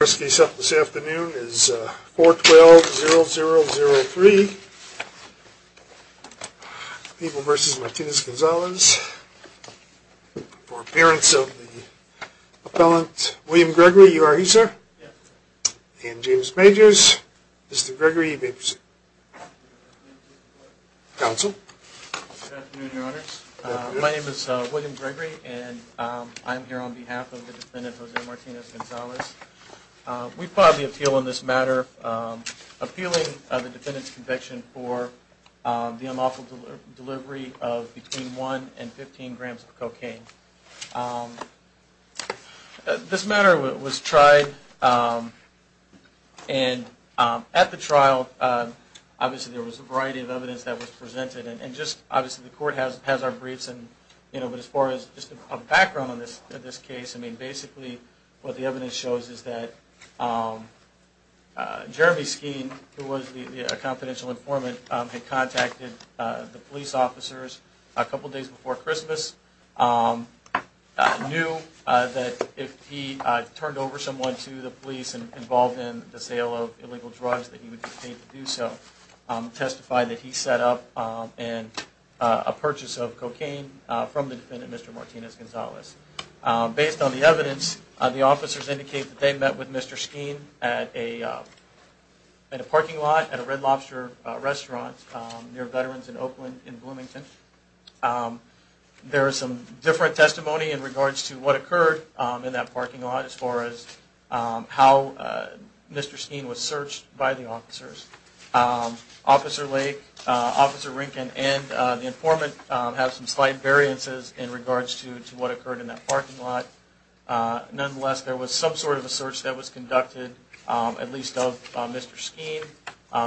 First case up this afternoon is 412-0003, People v. Martinez-Gonzalez, for appearance of the appellant William Gregory. You are he, sir? Yes, sir. And James Majors. Mr. Gregory, you may proceed. Counsel. Good afternoon, Your Honors. My name is William Gregory, and I am here on behalf of the defendant, Jose Martinez-Gonzalez. We filed the appeal on this matter, appealing the defendant's conviction for the unlawful delivery of between 1 and 15 grams of cocaine. This matter was tried, and at the trial, obviously there was a variety of evidence that was presented, and just obviously the court has our briefs, but as far as just a background on this case, I mean basically what the evidence shows is that Jeremy Skeen, who was a confidential informant, had contacted the police officers a couple days before Christmas, knew that if he turned over someone to the police involved in the sale of illegal drugs, that he would be paid to do so, testified that he set up a purchase of cocaine from the defendant, Mr. Martinez-Gonzalez. Based on the evidence, the officers indicate that they met with Mr. Skeen at a parking lot at a Red Lobster restaurant near Veterans in Oakland in Bloomington. There is some different testimony in regards to what occurred in that parking lot as far as how Mr. Skeen was searched by the officers. Officer Lake, Officer Rinken, and the informant have some slight variances in regards to what occurred in that parking lot. Nonetheless, there was some sort of a search that was conducted, at least of Mr. Skeen.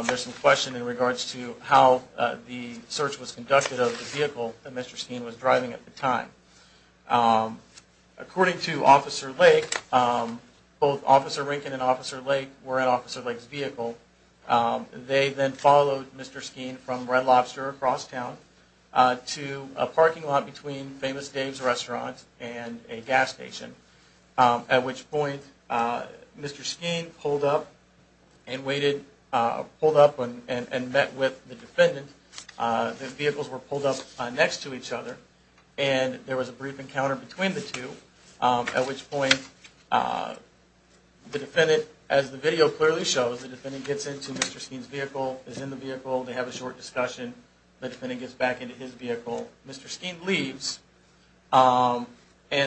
There's some question in regards to how the search was conducted of the vehicle that Mr. Skeen was driving at the time. According to Officer Lake, both Officer Rinken and Officer Lake were in Officer Lake's vehicle. They then followed Mr. Skeen from Red Lobster across town to a parking lot between famous Dave's restaurant and a gas station. At which point, Mr. Skeen pulled up and met with the defendant. The vehicles were pulled up next to each other and there was a brief encounter between the two. At which point, as the video clearly shows, the defendant gets into Mr. Skeen's vehicle, is in the vehicle, they have a short discussion, the defendant gets back into his vehicle, Mr. Skeen leaves, and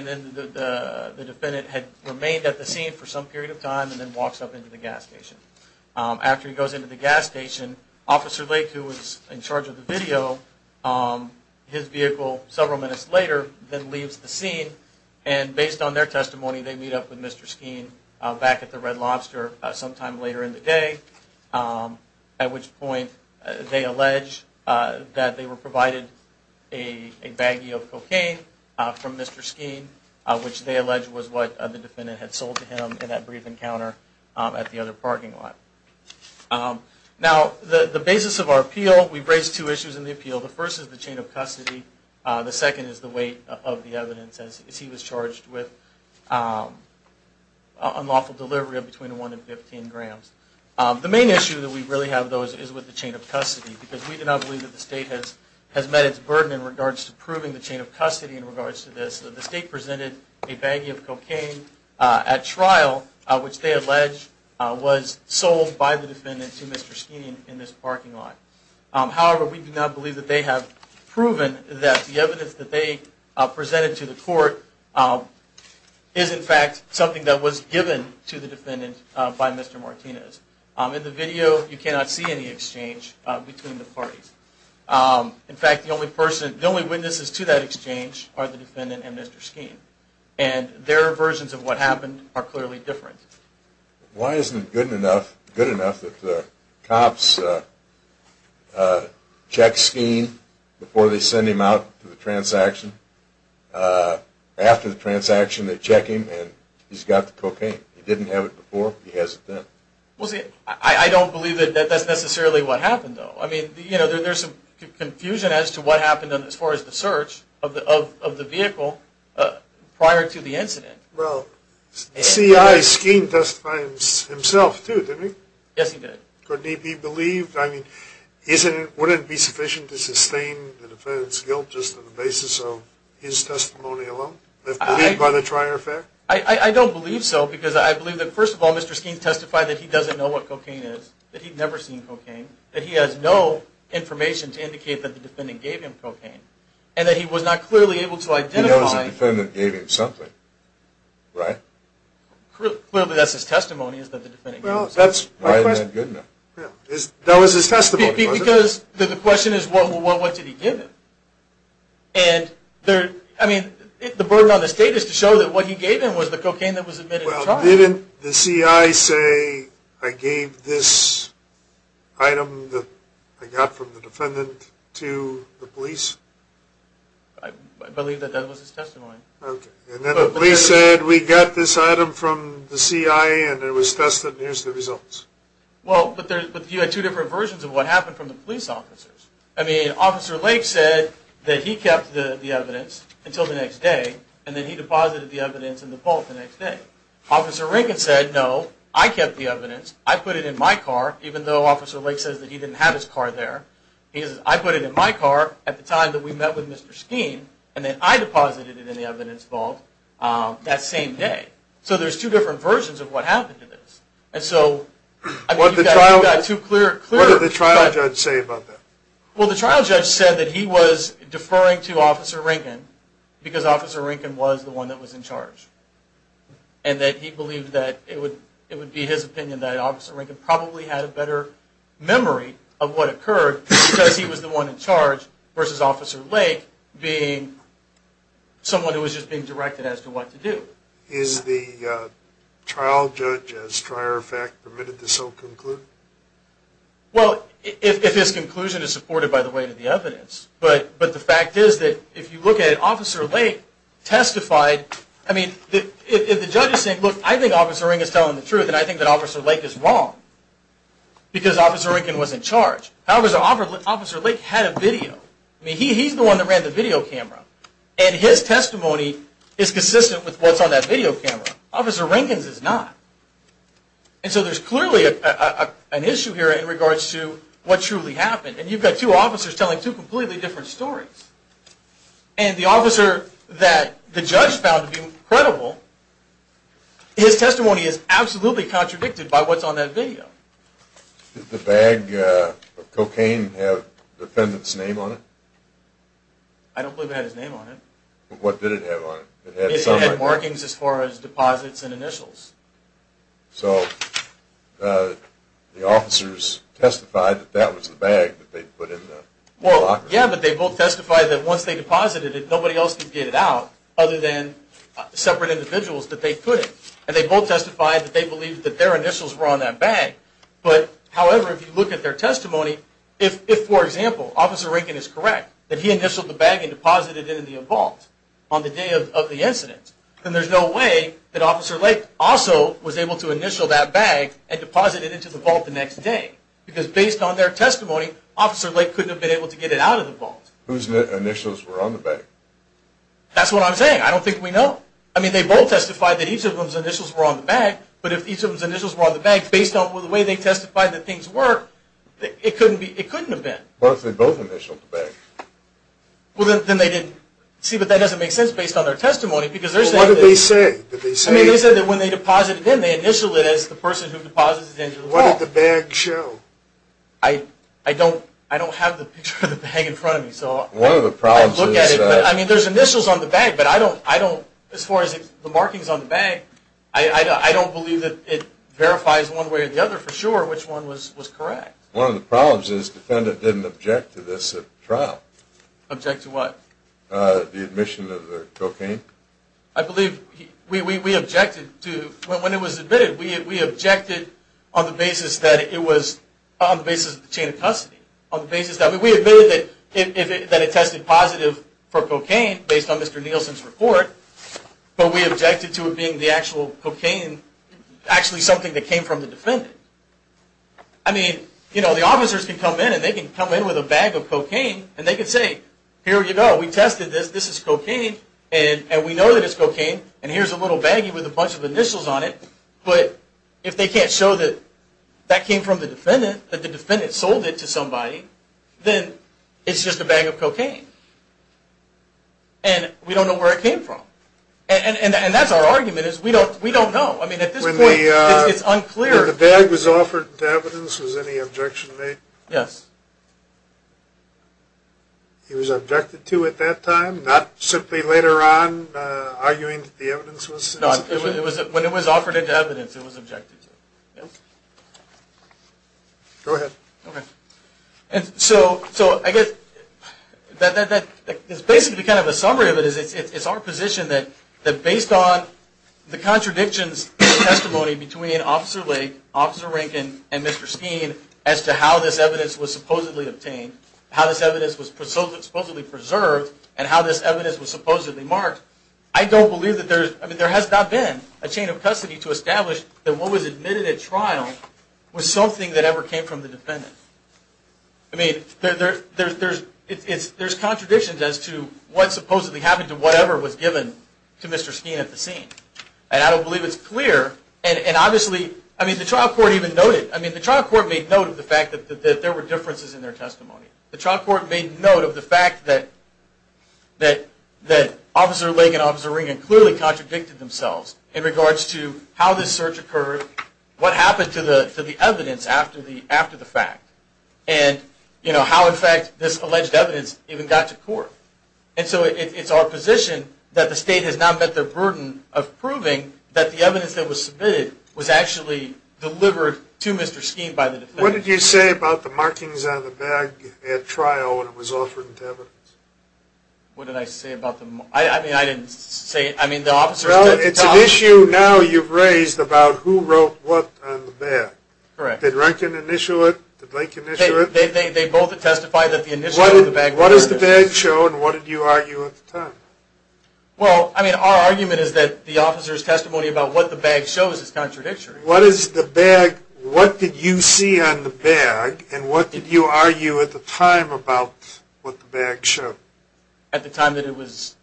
then the defendant had remained at the scene for some period of time and then walks up into the gas station. After he goes into the gas station, Officer Lake, who was in charge of the video, his vehicle several minutes later, then leaves the scene. And based on their testimony, they meet up with Mr. Skeen back at the Red Lobster sometime later in the day. At which point, they allege that they were provided a baggie of cocaine from Mr. Skeen, which they allege was what the defendant had sold to him in that brief encounter at the other parking lot. Now, the basis of our appeal, we raised two issues in the appeal. The first is the chain of custody. The second is the weight of the evidence as he was charged with unlawful delivery of between 1 and 15 grams. The main issue that we really have, though, is with the chain of custody. Because we do not believe that the state has met its burden in regards to proving the chain of custody in regards to this. The state presented a baggie of cocaine at trial, which they allege was sold by the defendant to Mr. Skeen in this parking lot. However, we do not believe that they have proven that the evidence that they presented to the court is, in fact, something that was given to the defendant by Mr. Martinez. In the video, you cannot see any exchange between the parties. In fact, the only witnesses to that exchange are the defendant and Mr. Skeen. And their versions of what happened are clearly different. Why isn't it good enough that the cops check Skeen before they send him out to the transaction? After the transaction, they check him and he's got the cocaine. He didn't have it before, he has it then. I don't believe that that's necessarily what happened, though. I mean, there's some confusion as to what happened as far as the search of the vehicle prior to the incident. Well, C.I. Skeen testified himself, too, didn't he? Yes, he did. Would it be sufficient to sustain the defendant's guilt just on the basis of his testimony alone? I don't believe so. Because I believe that, first of all, Mr. Skeen testified that he doesn't know what cocaine is, that he'd never seen cocaine, that he has no information to indicate that the defendant gave him cocaine, and that he was not clearly able to identify... He knows the defendant gave him something, right? Clearly, that's his testimony, is that the defendant gave him something. Why isn't that good enough? That was his testimony, wasn't it? Because the question is, well, what did he give him? I mean, the burden on the state is to show that what he gave him was the cocaine that was admitted to trial. Well, didn't the C.I. say, I gave this item that I got from the defendant to the police? I believe that that was his testimony. Okay. And then the police said, we got this item from the C.I., and it was tested, and here's the results. Well, but you had two different versions of what happened from the police officers. I mean, Officer Lake said that he kept the evidence until the next day, and then he deposited the evidence in the vault the next day. Officer Rankin said, no, I kept the evidence, I put it in my car, even though Officer Lake says that he didn't have his car there. He says, I put it in my car at the time that we met with Mr. Skeen, and then I deposited it in the evidence vault that same day. So there's two different versions of what happened to this. What did the trial judge say about that? Well, the trial judge said that he was deferring to Officer Rankin because Officer Rankin was the one that was in charge, and that he believed that it would be his opinion that Officer Rankin probably had a better memory of what occurred because he was the one in charge versus Officer Lake being someone who was just being directed as to what to do. Is the trial judge, as a prior fact, permitted to so conclude? Well, if his conclusion is supported by the weight of the evidence, but the fact is that if you look at it, Officer Lake testified. I mean, if the judge is saying, look, I think Officer Rankin is telling the truth, and I think that Officer Lake is wrong because Officer Rankin was in charge. However, Officer Lake had a video. I mean, he's the one that ran the video camera, and his testimony is consistent with what's on that video camera. Officer Rankin's is not. And so there's clearly an issue here in regards to what truly happened, and you've got two officers telling two completely different stories. And the officer that the judge found to be credible, his testimony is absolutely contradicted by what's on that video. Did the bag of cocaine have the defendant's name on it? I don't believe it had his name on it. What did it have on it? It had markings as far as deposits and initials. So the officers testified that that was the bag that they'd put in the locker. Well, yeah, but they both testified that once they deposited it, nobody else could get it out other than separate individuals that they couldn't. And they both testified that they believed that their initials were on that bag. However, if you look at their testimony, if, for example, Officer Rankin is correct that he initialed the bag and deposited it in the vault on the day of the incident, then there's no way that Officer Lake also was able to initial that bag and deposit it into the vault the next day. Because based on their testimony, Officer Lake couldn't have been able to get it out of the vault. Whose initials were on the bag? That's what I'm saying. I don't think we know. I mean, they both testified that each of them's initials were on the bag, but if each of them's initials were on the bag, based on the way they testified that things were, it couldn't have been. What if they both initialed the bag? Well, then they didn't. See, but that doesn't make sense based on their testimony. But what did they say? I mean, they said that when they deposited it in, they initialed it as the person who deposits it into the vault. What did the bag show? I don't have the picture of the bag in front of me. One of the problems is that – I mean, there's initials on the bag, but I don't – as far as the markings on the bag, I don't believe that it verifies one way or the other for sure which one was correct. One of the problems is the defendant didn't object to this at trial. Object to what? The admission of the cocaine. I believe we objected to – when it was admitted, we objected on the basis that it was – on the basis of the chain of custody. On the basis that – we admitted that it tested positive for cocaine based on Mr. Nielsen's report, but we objected to it being the actual cocaine – actually something that came from the defendant. I mean, you know, the officers can come in, and they can come in with a bag of cocaine, and they can say, here you go, we tested this, this is cocaine, and we know that it's cocaine, and here's a little baggie with a bunch of initials on it, but if they can't show that that came from the defendant, that the defendant sold it to somebody, then it's just a bag of cocaine. And we don't know where it came from. And that's our argument, is we don't know. I mean, at this point, it's unclear. When the bag was offered into evidence, was any objection made? Yes. He was objected to at that time, not simply later on arguing that the evidence was insufficient? No, when it was offered into evidence, it was objected to. Go ahead. Okay. And so, I guess, that is basically kind of a summary of it. It's our position that, based on the contradictions in testimony between Officer Lake, Officer Rankin, and Mr. Skeen, as to how this evidence was supposedly obtained, how this evidence was supposedly preserved, and how this evidence was supposedly marked, I don't believe that there's, I mean, there has not been a chain of custody to establish that what was admitted at trial was something that ever came from the defendant. I mean, there's contradictions as to what supposedly happened to whatever was given to Mr. Skeen at the scene. And I don't believe it's clear, and obviously, I mean, the trial court even noted, I mean, the trial court made note of the fact that there were differences in their testimony. The trial court made note of the fact that Officer Lake and Officer Rankin clearly contradicted themselves in regards to how this search occurred, what happened to the evidence after the fact, and, you know, how, in fact, this alleged evidence even got to court. And so it's our position that the state has now met the burden of proving that the evidence that was submitted was actually delivered to Mr. Skeen by the defendant. What did you say about the markings on the bag at trial when it was offered to evidence? What did I say about the... I mean, I didn't say... I mean, the officers... Well, it's an issue now you've raised about who wrote what on the bag. Correct. Did Rankin initial it? Did Lake initial it? They both testified that the initial of the bag... What does the bag show, and what did you argue at the time? Well, I mean, our argument is that the officer's testimony about what the bag shows is contradictory. What is the bag... What did you see on the bag, and what did you argue at the time about what the bag showed? At the time that it was...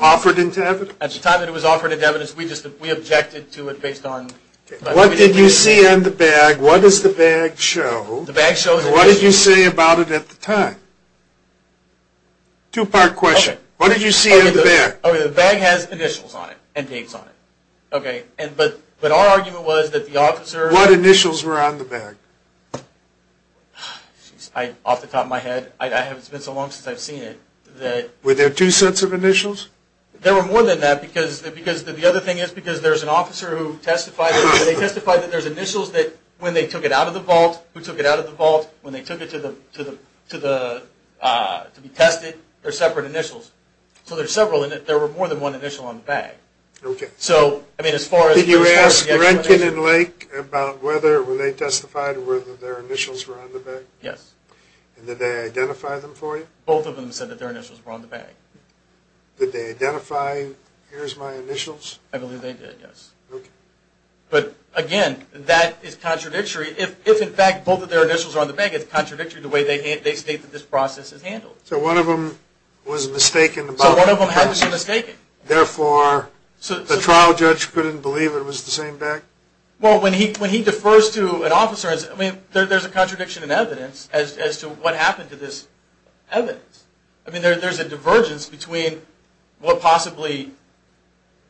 Offered into evidence? At the time that it was offered into evidence, we objected to it based on... What did you see on the bag? What does the bag show? The bag shows... What did you say about it at the time? Two-part question. What did you see on the bag? The bag has initials on it, and dates on it. Okay, but our argument was that the officer... What initials were on the bag? Off the top of my head, it's been so long since I've seen it, that... Were there two sets of initials? There were more than that, because... The other thing is, because there's an officer who testified... They testified that there's initials that, when they took it out of the vault, who took it out of the vault, when they took it to the... To be tested, there's separate initials. So there's several, and there were more than one initial on the bag. Okay. So, I mean, as far as... Did you ask Rankin and Lake about whether they testified or whether their initials were on the bag? Yes. And did they identify them for you? Both of them said that their initials were on the bag. Did they identify, here's my initials? I believe they did, yes. Okay. But, again, that is contradictory. If, in fact, both of their initials are on the bag, it's contradictory the way they state that this process is handled. So one of them was mistaken about the process? So one of them had to be mistaken. Therefore, the trial judge couldn't believe it was the same bag? Well, when he defers to an officer, I mean, there's a contradiction in evidence as to what happened to this evidence. I mean, there's a divergence between what possibly,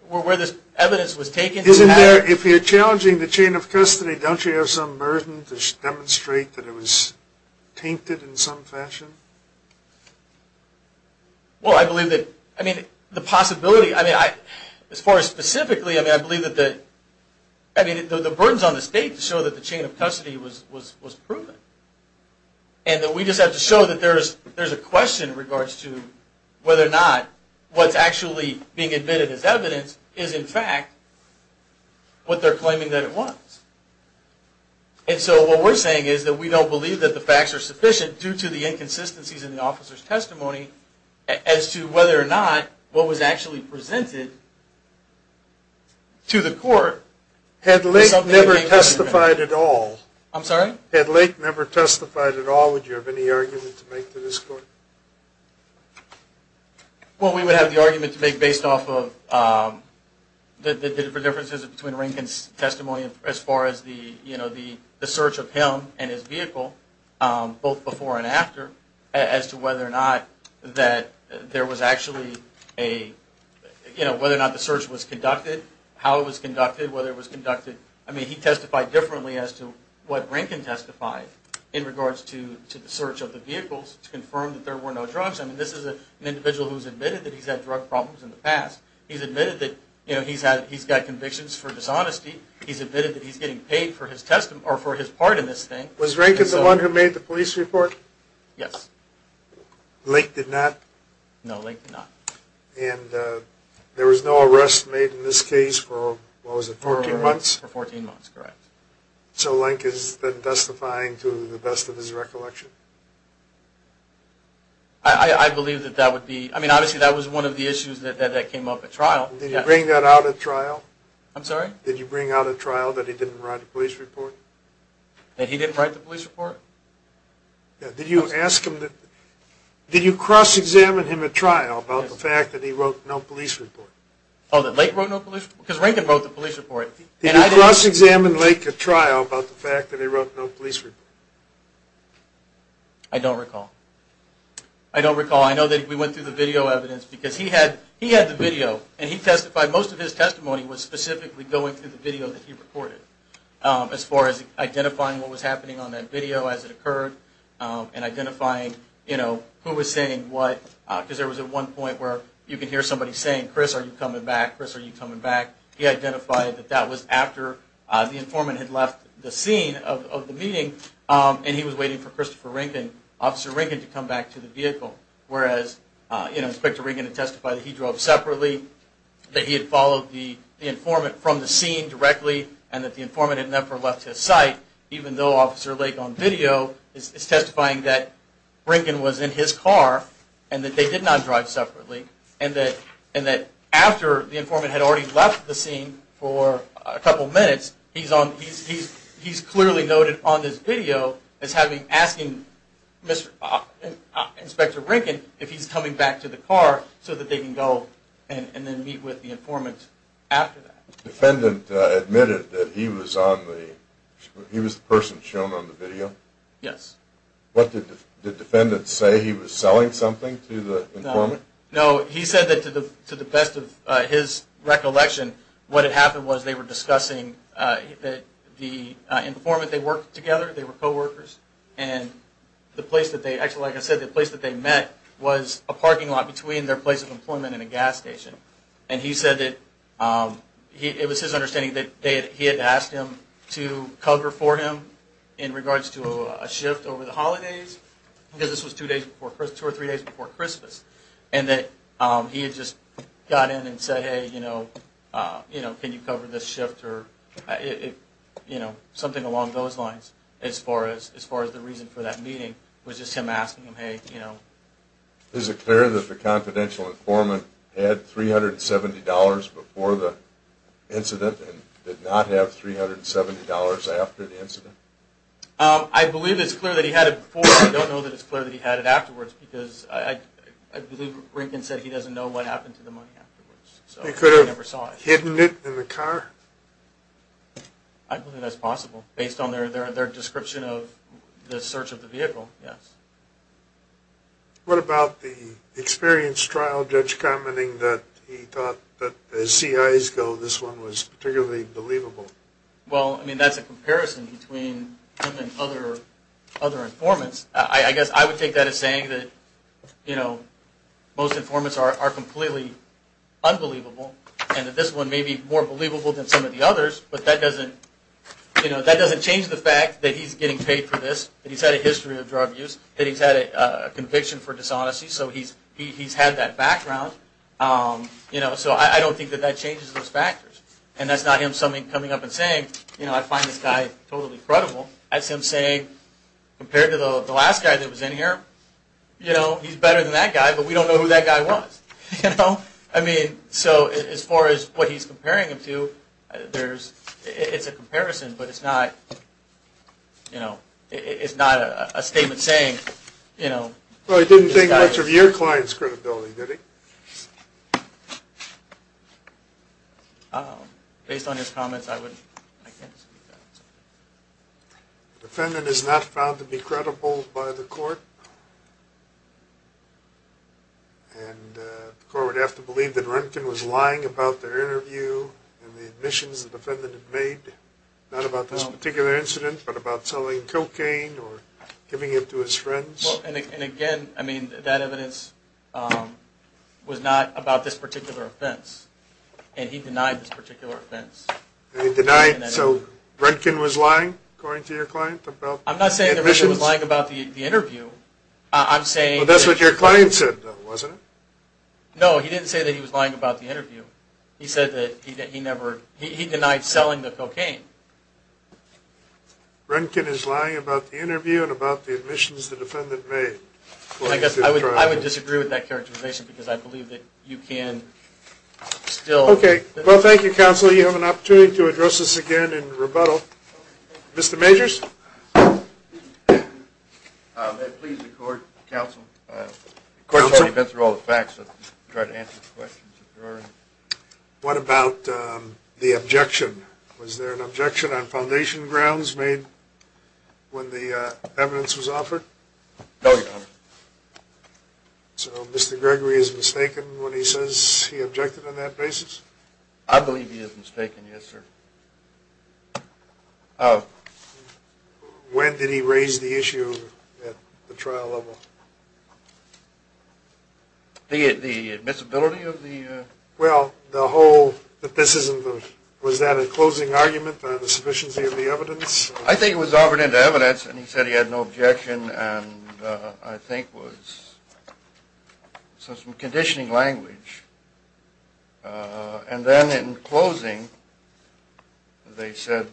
where this evidence was taken. Isn't there, if you're challenging the chain of custody, don't you have some burden to demonstrate that it was tainted in some fashion? Well, I believe that, I mean, the possibility, I mean, as far as specifically, I mean, I believe that the, I mean, the burdens on the state show that the chain of custody was proven. And that we just have to show that there's a question in regards to whether or not what's actually being admitted as evidence is, in fact, what they're claiming that it was. And so what we're saying is that we don't believe that the facts are sufficient due to the inconsistencies in the officer's testimony as to whether or not what was actually presented to the court. Had Lake never testified at all? I'm sorry? Had Lake never testified at all, would you have any argument to make to this court? Well, we would have the argument to make based off of the differences between Rankin's testimony as far as the search of him and his vehicle, both before and after, as to whether or not that there was actually a, you know, whether or not the search was conducted, how it was conducted, whether it was conducted. I mean, he testified differently as to what Rankin testified in regards to the search of the vehicles to confirm that there were no drugs. I mean, this is an individual who's admitted that he's had drug problems in the past. He's admitted that, you know, he's got convictions for dishonesty. He's admitted that he's getting paid for his part in this thing. Was Rankin the one who made the police report? Yes. Lake did not? No, Lake did not. And there was no arrest made in this case for, what was it, 14 months? For 14 months, correct. So Lake has been testifying to the best of his recollection? I believe that that would be, I mean, obviously, that was one of the issues that came up at trial. Did he bring that out at trial? I'm sorry? Did he bring out at trial that he didn't write a police report? That he didn't write the police report? Did you cross-examine him at trial about the fact that he wrote no police report? Oh, that Lake wrote no police report? Because Rankin wrote the police report. Did you cross-examine Lake at trial about the fact that he wrote no police report? I don't recall. I don't recall. I know that we went through the video evidence because he had the video, and he testified most of his testimony was specifically going through the video that he recorded. As far as identifying what was happening on that video as it occurred, and identifying, you know, who was saying what, because there was at one point where you could hear somebody saying, Chris, are you coming back? Chris, are you coming back? He identified that that was after the informant had left the scene of the meeting, and he was waiting for Christopher Rankin, Officer Rankin, to come back to the vehicle, whereas, you know, Inspector Rankin had testified that he drove separately, that he had followed the informant from the scene directly, and that the informant had never left his site, even though Officer Lake on video is testifying that Rankin was in his car, and that they did not drive separately, and that after the informant had already left the scene for a couple minutes, he's clearly noted on this video as having, asking Inspector Rankin if he's coming back to the car so that they can go and then meet with the informant after that. The defendant admitted that he was the person shown on the video? Yes. What did the defendant say? He was selling something to the informant? No. He said that to the best of his recollection, what had happened was they were discussing that the informant, they worked together, they were coworkers, and the place that they actually, like I said, the place that they met was a parking lot between their place of employment and a gas station. And he said that it was his understanding that he had asked him to cover for him in regards to a shift over the holidays, because this was two or three days before Christmas, and that he had just got in and said, hey, can you cover this shift or something along those lines as far as the reason for that meeting, which is him asking him, hey, you know. Is it clear that the confidential informant had $370 before the incident and did not have $370 after the incident? I believe it's clear that he had it before. I don't know that it's clear that he had it afterwards, because I believe Rankin said he doesn't know what happened to the money afterwards. They could have hidden it in the car? I believe that's possible, based on their description of the search of the vehicle, yes. What about the experience trial judge commenting that he thought that, as CIs go, this one was particularly believable? Well, I mean, that's a comparison between him and other informants. I guess I would take that as saying that, you know, most informants are completely unbelievable and that this one may be more believable than some of the others, but that doesn't change the fact that he's getting paid for this, that he's had a history of drug use, that he's had a conviction for dishonesty, so he's had that background. So I don't think that that changes those factors. And that's not him coming up and saying, you know, I find this guy totally credible. That's him saying, compared to the last guy that was in here, you know, he's better than that guy, but we don't know who that guy was. You know? I mean, so as far as what he's comparing him to, it's a comparison, but it's not, you know, it's not a statement saying, you know. Well, he didn't think much of your client's credibility, did he? Based on his comments, I can't speak to that. The defendant is not found to be credible by the court, and the court would have to believe that Roentgen was lying about their interview and the admissions the defendant had made, not about this particular incident, but about selling cocaine or giving it to his friends. And again, I mean, that evidence was not about this particular offense, and he denied this particular offense. So Roentgen was lying, according to your client? I'm not saying that Roentgen was lying about the interview. Well, that's what your client said, though, wasn't it? No, he didn't say that he was lying about the interview. He said that he denied selling the cocaine. Roentgen is lying about the interview and about the admissions the defendant made. I would disagree with that characterization, because I believe that you can still... Okay, well, thank you, counsel. You have an opportunity to address this again in rebuttal. Mr. Majors? That pleases the court, counsel. The court has already been through all the facts, so I'll just try to answer the questions if there are any. What about the objection? Was there an objection on foundation grounds made when the evidence was offered? No, Your Honor. So Mr. Gregory is mistaken when he says he objected on that basis? I believe he is mistaken, yes, sir. When did he raise the issue at the trial level? The admissibility of the... Well, the whole... Was that a closing argument on the sufficiency of the evidence? I think it was offered into evidence, and he said he had no objection, and I think was some conditioning language. And then in closing, they said,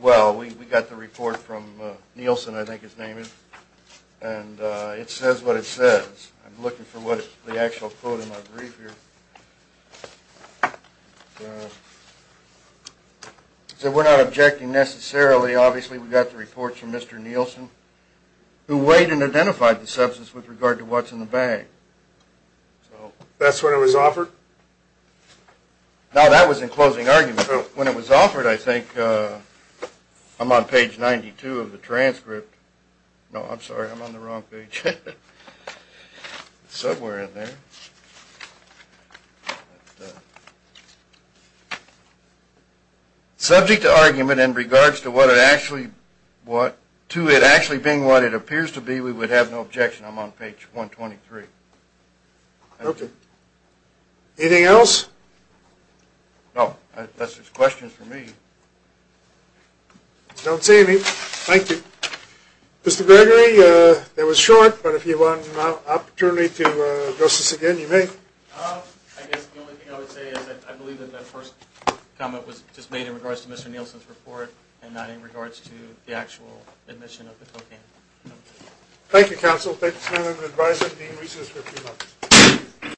well, we got the report from Nielsen, I think his name is, and it says what it says. I'm looking for the actual quote in my brief here. So we're not objecting necessarily. Obviously, we got the report from Mr. Nielsen, who weighed and identified the substance with regard to what's in the bag. That's when it was offered? No, that was in closing argument. When it was offered, I think, I'm on page 92 of the transcript. No, I'm sorry, I'm on the wrong page. It's somewhere in there. That's it. Subject to argument in regards to what it actually what, to it actually being what it appears to be, we would have no objection. I'm on page 123. Okay. Anything else? No, unless there's questions for me. Don't see any. Thank you. Mr. Gregory, that was short, but if you want an opportunity to address this again, you may. I guess the only thing I would say is I believe that that first comment was just made in regards to Mr. Nielsen's report and not in regards to the actual admission of the cocaine. Thank you, counsel. Thanks for advising and being resourceful.